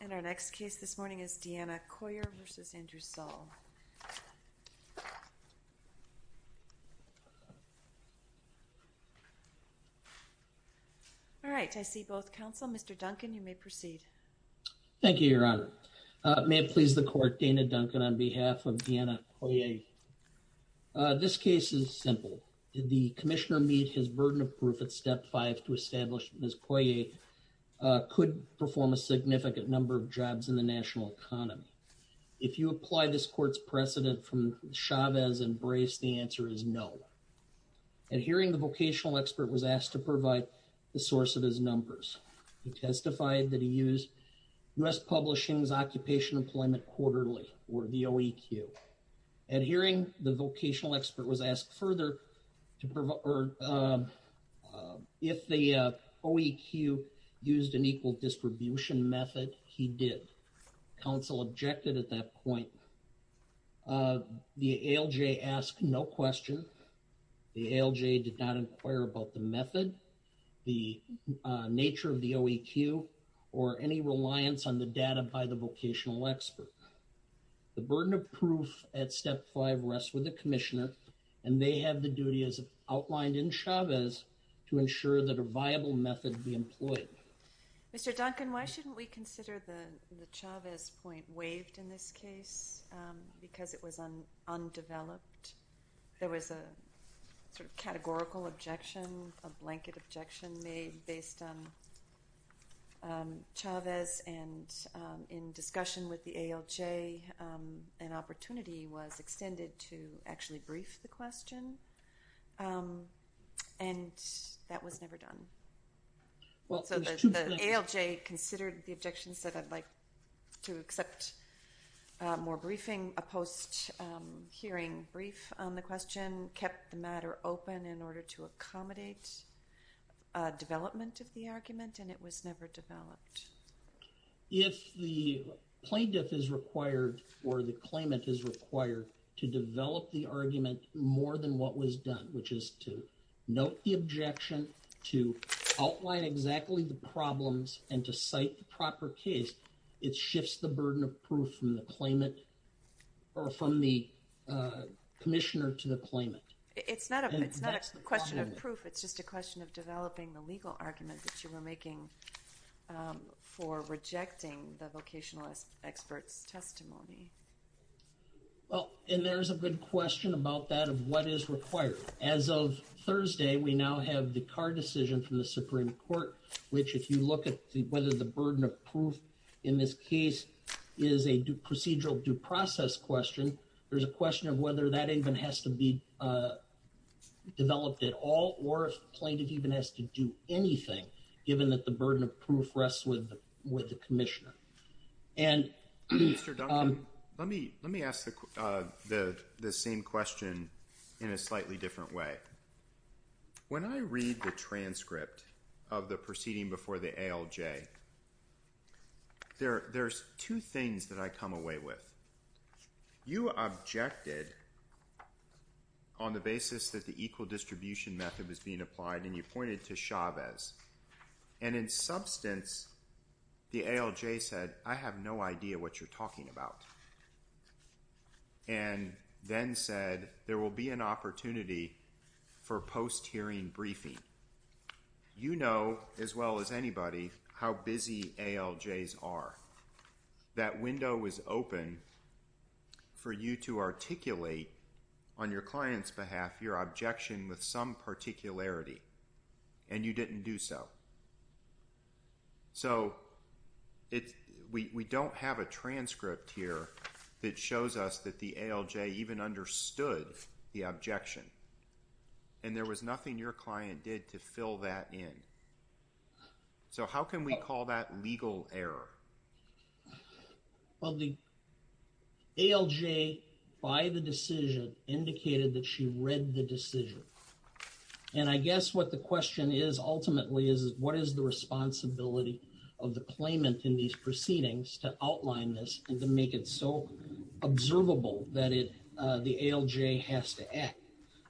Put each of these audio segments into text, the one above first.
And our next case this morning is Deana Coyier v. Andrew Saul All right, I see both counsel. Mr. Duncan, you may proceed Thank you, Your Honor. May it please the court, Dana Duncan on behalf of Deana Coyier This case is simple. Did the commissioner meet his burden of proof at step 5 to establish Ms. Coyier that Ms. Coyier could perform a significant number of jobs in the national economy? If you apply this court's precedent from Chavez and Brace, the answer is no At hearing, the vocational expert was asked to provide the source of his numbers He testified that he used U.S. Publishing's Occupation Employment Quarterly, or the OEQ At hearing, the vocational expert was asked further if the OEQ used an equal distribution method He did. Counsel objected at that point The ALJ asked no question. The ALJ did not inquire about the method, the nature of the OEQ, or any reliance on the data by the vocational expert The burden of proof at step 5 rests with the commissioner And they have the duty, as outlined in Chavez, to ensure that a viable method be employed Mr. Duncan, why shouldn't we consider the Chavez point waived in this case? Because it was undeveloped. There was a categorical objection, a blanket objection made based on Chavez And in discussion with the ALJ, an opportunity was extended to actually brief the question And that was never done So the ALJ considered the objections, said I'd like to accept more briefing A post-hearing brief on the question kept the matter open in order to accommodate development of the argument And it was never developed If the plaintiff is required, or the claimant is required, to develop the argument more than what was done Which is to note the objection, to outline exactly the problems, and to cite the proper case It shifts the burden of proof from the commissioner to the claimant It's not a question of proof, it's just a question of developing the legal argument that you were making For rejecting the vocational expert's testimony Well, and there's a good question about that, of what is required As of Thursday, we now have the Carr decision from the Supreme Court Which, if you look at whether the burden of proof in this case is a procedural due process question There's a question of whether that even has to be developed at all Or if the plaintiff even has to do anything, given that the burden of proof rests with the commissioner Mr. Duncan, let me ask the same question in a slightly different way When I read the transcript of the proceeding before the ALJ There's two things that I come away with You objected on the basis that the equal distribution method was being applied And you pointed to Chavez And in substance, the ALJ said, I have no idea what you're talking about And then said, there will be an opportunity for post-hearing briefing You know, as well as anybody, how busy ALJs are That window was open for you to articulate On your client's behalf, your objection with some particularity And you didn't do so So, we don't have a transcript here That shows us that the ALJ even understood the objection And there was nothing your client did to fill that in So, how can we call that legal error? Well, the ALJ, by the decision, indicated that she read the decision And I guess what the question is, ultimately, is what is the responsibility Of the claimant in these proceedings to outline this And to make it so observable that the ALJ has to act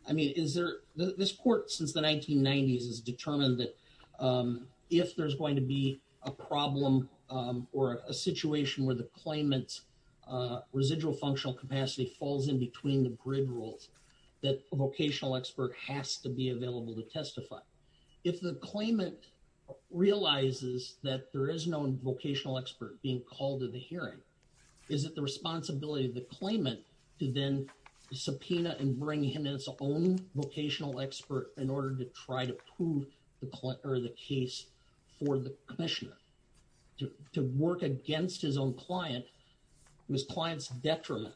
I mean, is there, this court since the 1990s has determined that If there's going to be a problem or a situation where the claimant's Residual functional capacity falls in between the grid rules That a vocational expert has to be available to testify If the claimant realizes that there is no vocational expert being called to the hearing Is it the responsibility of the claimant to then subpoena His own vocational expert in order to try to prove the case for the commissioner To work against his own client, it was the client's detriment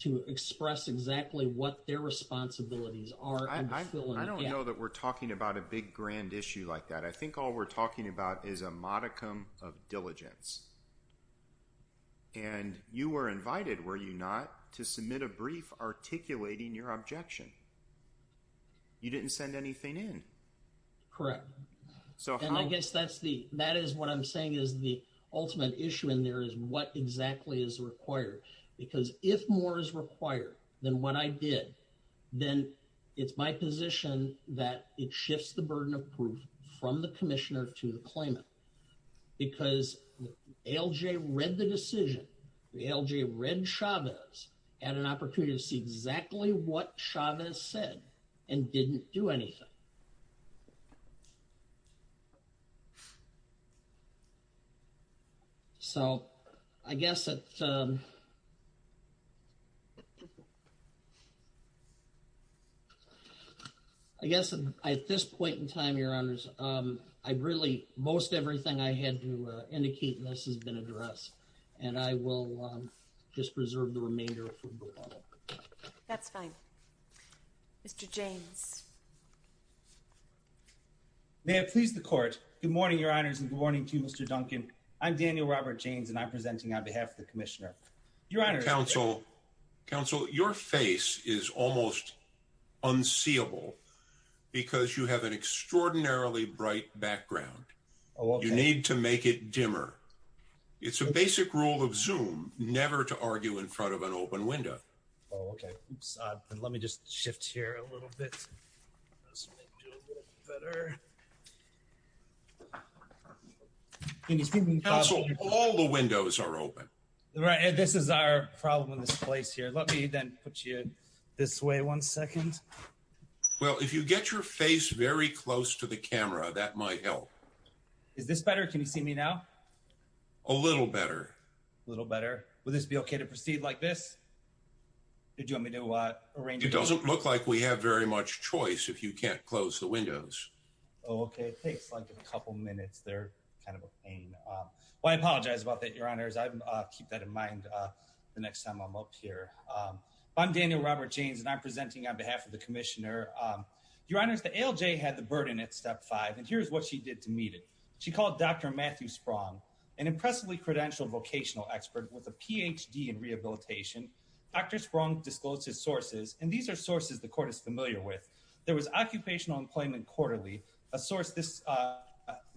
To express exactly what their responsibilities are I don't know that we're talking about a big grand issue like that I think all we're talking about is a modicum of diligence And you were invited, were you not, to submit a brief articulating your objection You didn't send anything in Correct And I guess that's the, that is what I'm saying is the ultimate issue in there Is what exactly is required, because if more is required than what I did Then it's my position that it shifts the burden of proof From the commissioner to the claimant Because ALJ read the decision, ALJ read Chavez Had an opportunity to see exactly what Chavez said and didn't do anything So, I guess at I guess at this point in time, your honors I really, most everything I had to indicate in this has been addressed And I will just preserve the remainder for the law That's fine Mr. James May I please the court Good morning your honors and good morning to you Mr. Duncan I'm Daniel Robert James and I'm presenting on behalf of the commissioner Your honors Counsel, your face is almost unseeable Because you have an extraordinarily bright background You need to make it dimmer It's the basic rule of zoom, never to argue in front of an open window Oh okay, oops, let me just shift here a little bit Counsel, all the windows are open Right, this is our problem in this place here Let me then put you this way one second Well, if you get your face very close to the camera, that might help Is this better, can you see me now? A little better A little better Will this be okay to proceed like this? Did you want me to arrange It doesn't look like we have very much choice if you can't close the windows Oh okay, it takes like a couple minutes, they're kind of a pain Well, I apologize about that your honors I'll keep that in mind the next time I'm up here I'm Daniel Robert James and I'm presenting on behalf of the commissioner Your honors, the ALJ had the burden at step five And here's what she did to meet it She called Dr. Matthew Sprung, an impressively credentialed vocational expert With a PhD in rehabilitation Dr. Sprung disclosed his sources And these are sources the court is familiar with There was occupational employment quarterly A source this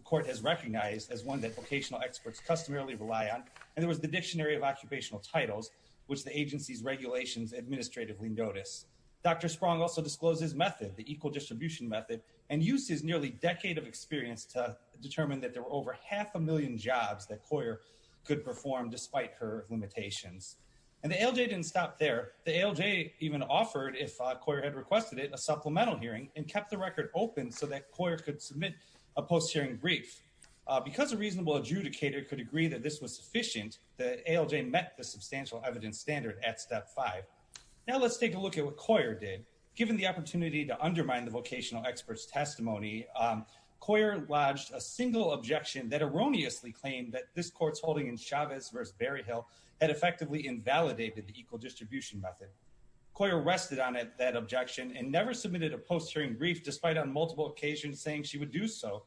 court has recognized as one that vocational experts customarily rely on And there was the dictionary of occupational titles Which the agency's regulations administratively notice Dr. Sprung also disclosed his method The equal distribution method And used his nearly decade of experience To determine that there were over half a million jobs That Coyer could perform despite her limitations And the ALJ didn't stop there The ALJ even offered, if Coyer had requested it A supplemental hearing and kept the record open So that Coyer could submit a post-hearing brief Because a reasonable adjudicator could agree that this was sufficient The ALJ met the substantial evidence standard at step five Now let's take a look at what Coyer did Given the opportunity to undermine the vocational experts testimony Coyer lodged a single objection that erroneously claimed That this court's holding in Chavez v. Berryhill Had effectively invalidated the equal distribution method Coyer rested on that objection And never submitted a post-hearing brief Despite on multiple occasions saying she would do so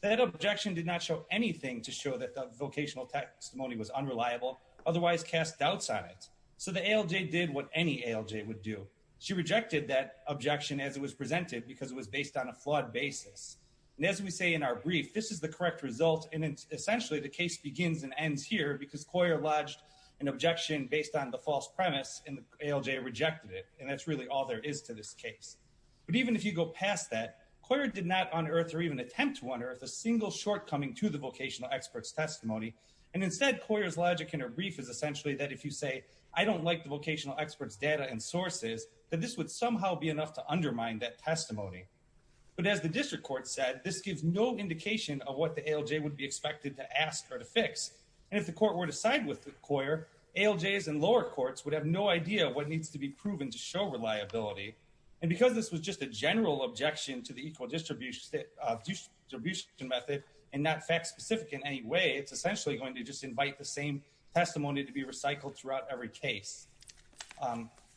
That objection did not show anything To show that the vocational testimony was unreliable Otherwise cast doubts on it So the ALJ did what any ALJ would do She rejected that objection as it was presented Because it was based on a flawed basis And as we say in our brief, this is the correct result And essentially the case begins and ends here Because Coyer lodged an objection based on the false premise And the ALJ rejected it And that's really all there is to this case But even if you go past that Coyer did not unearth or even attempt to unearth A single shortcoming to the vocational experts testimony And instead Coyer's logic in her brief Is essentially that if you say I don't like the vocational experts data and sources That this would somehow be enough to undermine that testimony But as the district court said This gives no indication of what the ALJ would be expected To ask or to fix And if the court were to side with Coyer ALJs and lower courts would have no idea Of what needs to be proven to show reliability And because this was just a general objection To the equal distribution method And not fact specific in any way It's essentially going to just invite the same testimony To be recycled throughout every case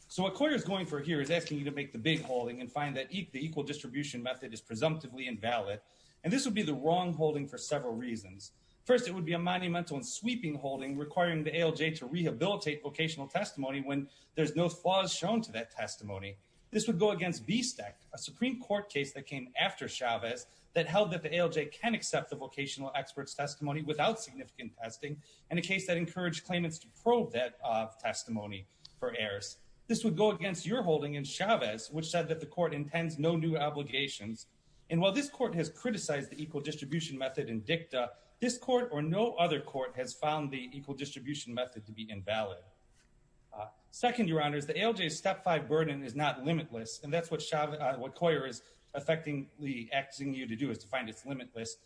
So what Coyer is going for here Is asking you to make the big holding And find that the equal distribution method Is presumptively invalid And this would be the wrong holding for several reasons First it would be a monumental and sweeping holding Requiring the ALJ to rehabilitate vocational testimony When there's no flaws shown to that testimony This would go against BSTEC A Supreme Court case that came after Chavez That held that the ALJ can accept The vocational experts testimony Without significant testing In order for the ALJ to prove that testimony For errors This would go against your holding in Chavez Which said that the court intends no new obligations And while this court has criticized The equal distribution method in dicta This court or no other court Has found the equal distribution method To be invalid Second your honors The ALJ's step five burden is not limitless And that's what Coyer is effectively asking you to do Is to find it's limitless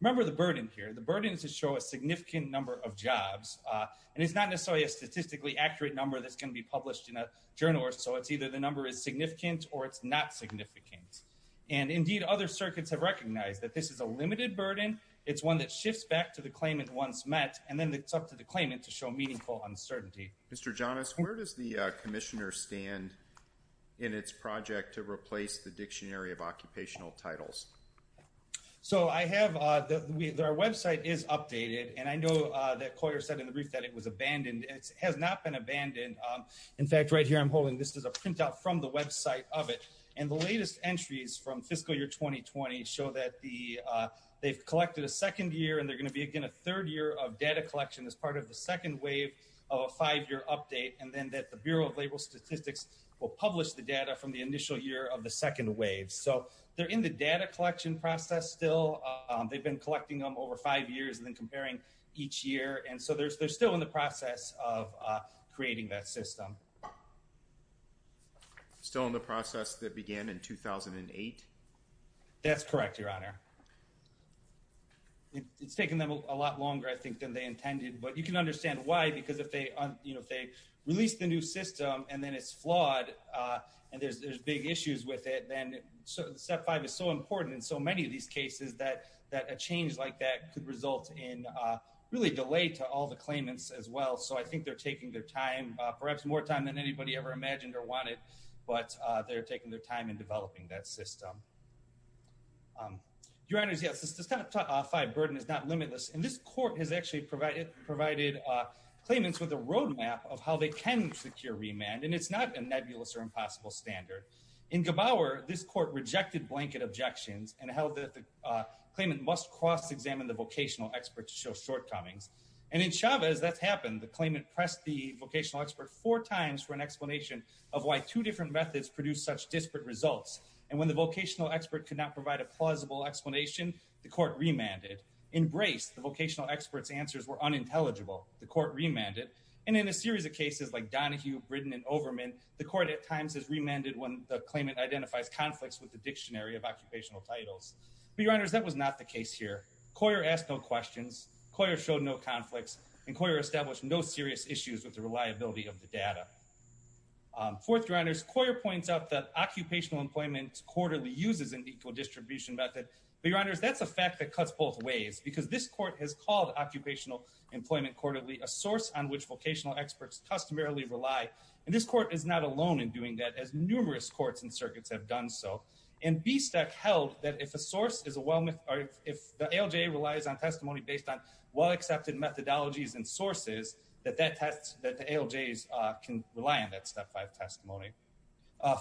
Remember the burden here The burden is to show a significant number of jobs It's not necessarily a statistically accurate number That's going to be published in a journal So it's either the number is significant Or it's not significant And indeed other circuits have recognized That this is a limited burden It's one that shifts back to the claimant once met And then it's up to the claimant To show meaningful uncertainty Mr. Jonas where does the commissioner stand In it's project to replace So I have Our website is updated And I know that Coyer said in the brief That it's been abandoned It has not been abandoned In fact right here I'm holding This is a printout from the website of it And the latest entries from fiscal year 2020 Show that the They've collected a second year And they're going to be again a third year Of data collection as part of the second wave Of a five year update And then that the Bureau of Labor Statistics Will publish the data from the initial year Of the second wave So they're in the data collection process still They've been collecting them over five years Of creating that system Still in the process that began in 2008 That's correct your honor It's taken them a lot longer I think than they intended But you can understand why Because if they release the new system And then it's flawed And there's big issues with it Then step five is so important In so many of these cases That a change like that could result in Really delay to all the claimants as well So I think they're taking their time Perhaps more time than anybody ever imagined Or wanted But they're taking their time In developing that system Your honors yes The step five burden is not limitless And this court has actually provided Claimants with a road map Of how they can secure remand And it's not a nebulous or impossible standard In Gebauer this court rejected blanket objections And held that the Claimant must cross examine The vocational expert to show shortcomings And pressed the vocational expert Four times for an explanation Of why two different methods Produce such disparate results And when the vocational expert Could not provide a plausible explanation The court remanded Embraced the vocational expert's answers Were unintelligible The court remanded And in a series of cases Like Donahue, Britton, and Overman The court at times has remanded When the claimant identifies conflicts With the dictionary of occupational titles Various issues with the reliability of the data Fourth your honors Coyer points out that Occupational employment quarterly Uses an equal distribution method But your honors that's a fact That cuts both ways Because this court has called Occupational employment quarterly A source on which vocational experts Customarily rely And this court is not alone In doing that as numerous courts And circuits have done so That the ALJs can rely On that step 5 testimony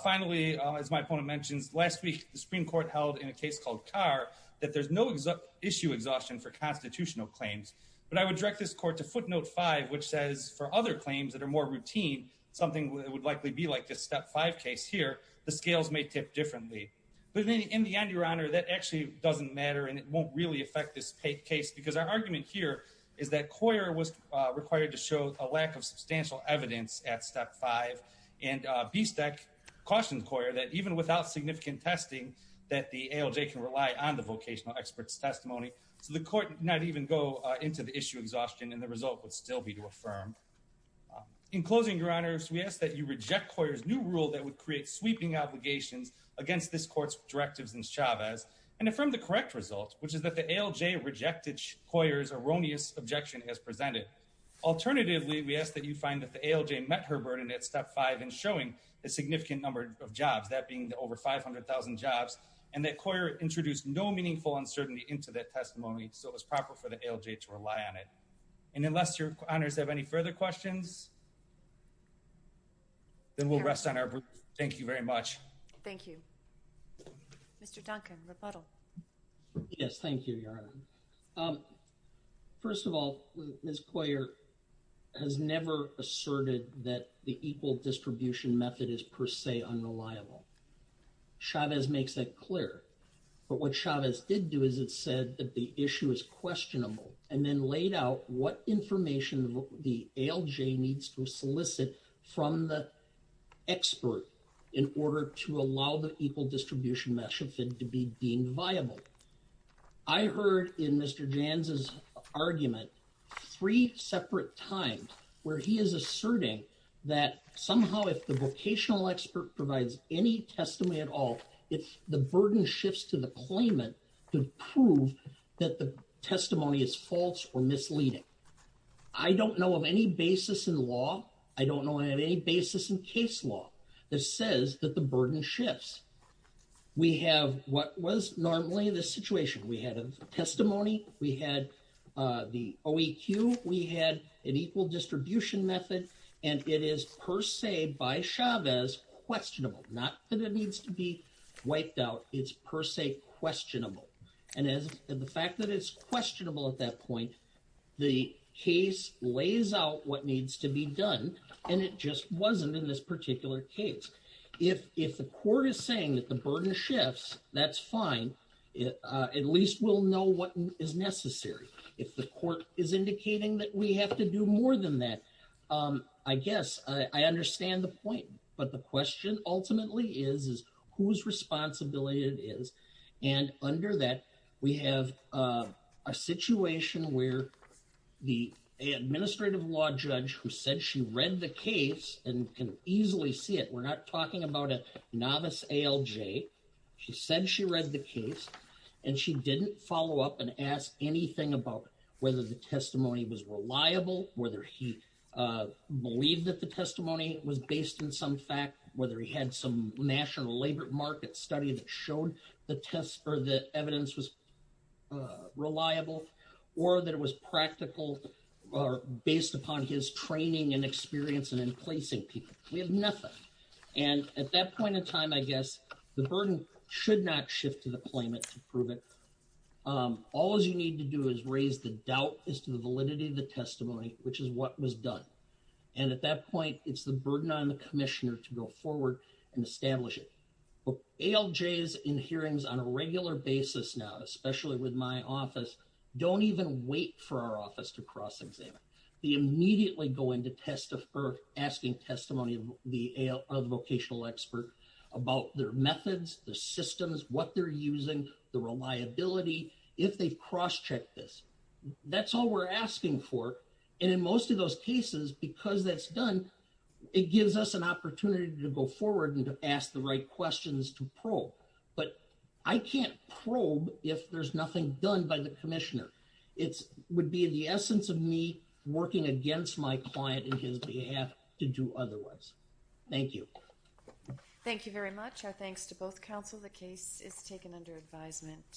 Finally as my opponent mentions Last week the Supreme Court Held in a case called Carr That there's no issue exhaustion For constitutional claims But I would direct this court To footnote 5 which says For other claims that are more routine Something that would likely be Like this step 5 case here The scales may tip differently But in the end your honor That actually doesn't matter Because there's a lack Of substantial evidence at step 5 And BSTEC cautions Coyer That even without significant testing That the ALJ can rely On the vocational experts testimony So the court did not even go Into the issue exhaustion And the result would still be to affirm In closing your honors We ask that you reject Coyer's new rule That would create sweeping obligations Against this court's directives in Chavez And affirm the correct result Which is that the ALJ rejected Coyer's new rule And we suggest that you find That the ALJ met her burden At step 5 in showing The significant number of jobs That being over 500,000 jobs And that Coyer introduced No meaningful uncertainty Into that testimony So it was proper for the ALJ To rely on it And unless your honors Have any further questions Then we'll rest on our brief Thank you very much I've never asserted That the equal distribution method Is per se unreliable Chavez makes that clear But what Chavez did do Is it said that the issue is questionable And then laid out What information the ALJ Needs to solicit From the expert In order to allow The equal distribution method To be deemed viable I heard in Mr. Janz's argument Three separate times Where he is asserting That somehow if the vocational expert Provides any testimony at all If the burden shifts To the claimant To prove that the testimony Is false or misleading I don't know of any basis in law I don't know of any basis In case law That says that the burden shifts We have what was normally The situation We had a testimony We had the OEQ The equal distribution method And it is per se By Chavez Questionable Not that it needs to be wiped out It's per se questionable And the fact that it's questionable At that point The case lays out What needs to be done And it just wasn't In this particular case If the court is saying That the burden shifts That's fine I guess I understand the point But the question ultimately is Whose responsibility it is And under that We have a situation Where the administrative law judge Who said she read the case And can easily see it We're not talking about A novice ALJ She said she read the case And she didn't follow up And ask anything about Whether the testimony was reliable Whether he Believed that the testimony Was based in some fact Whether he had some National labor market study That showed the evidence Was reliable Or that it was practical Based upon his training And experience in placing people We have nothing And at that point in time The burden should not Shift to the claimant The doubt is to the validity Of the testimony Which is what was done And at that point It's the burden on the commissioner To go forward and establish it ALJs in hearings on a regular basis now Especially with my office Don't even wait for our office To cross-examine They immediately go in Asking testimony Of the vocational expert About their methods Their systems That's all we're asking for And in most of those cases Because that's done It gives us an opportunity To go forward And to ask the right questions To probe But I can't probe If there's nothing done By the commissioner It would be the essence of me Working against my client And his behalf To do otherwise Thank you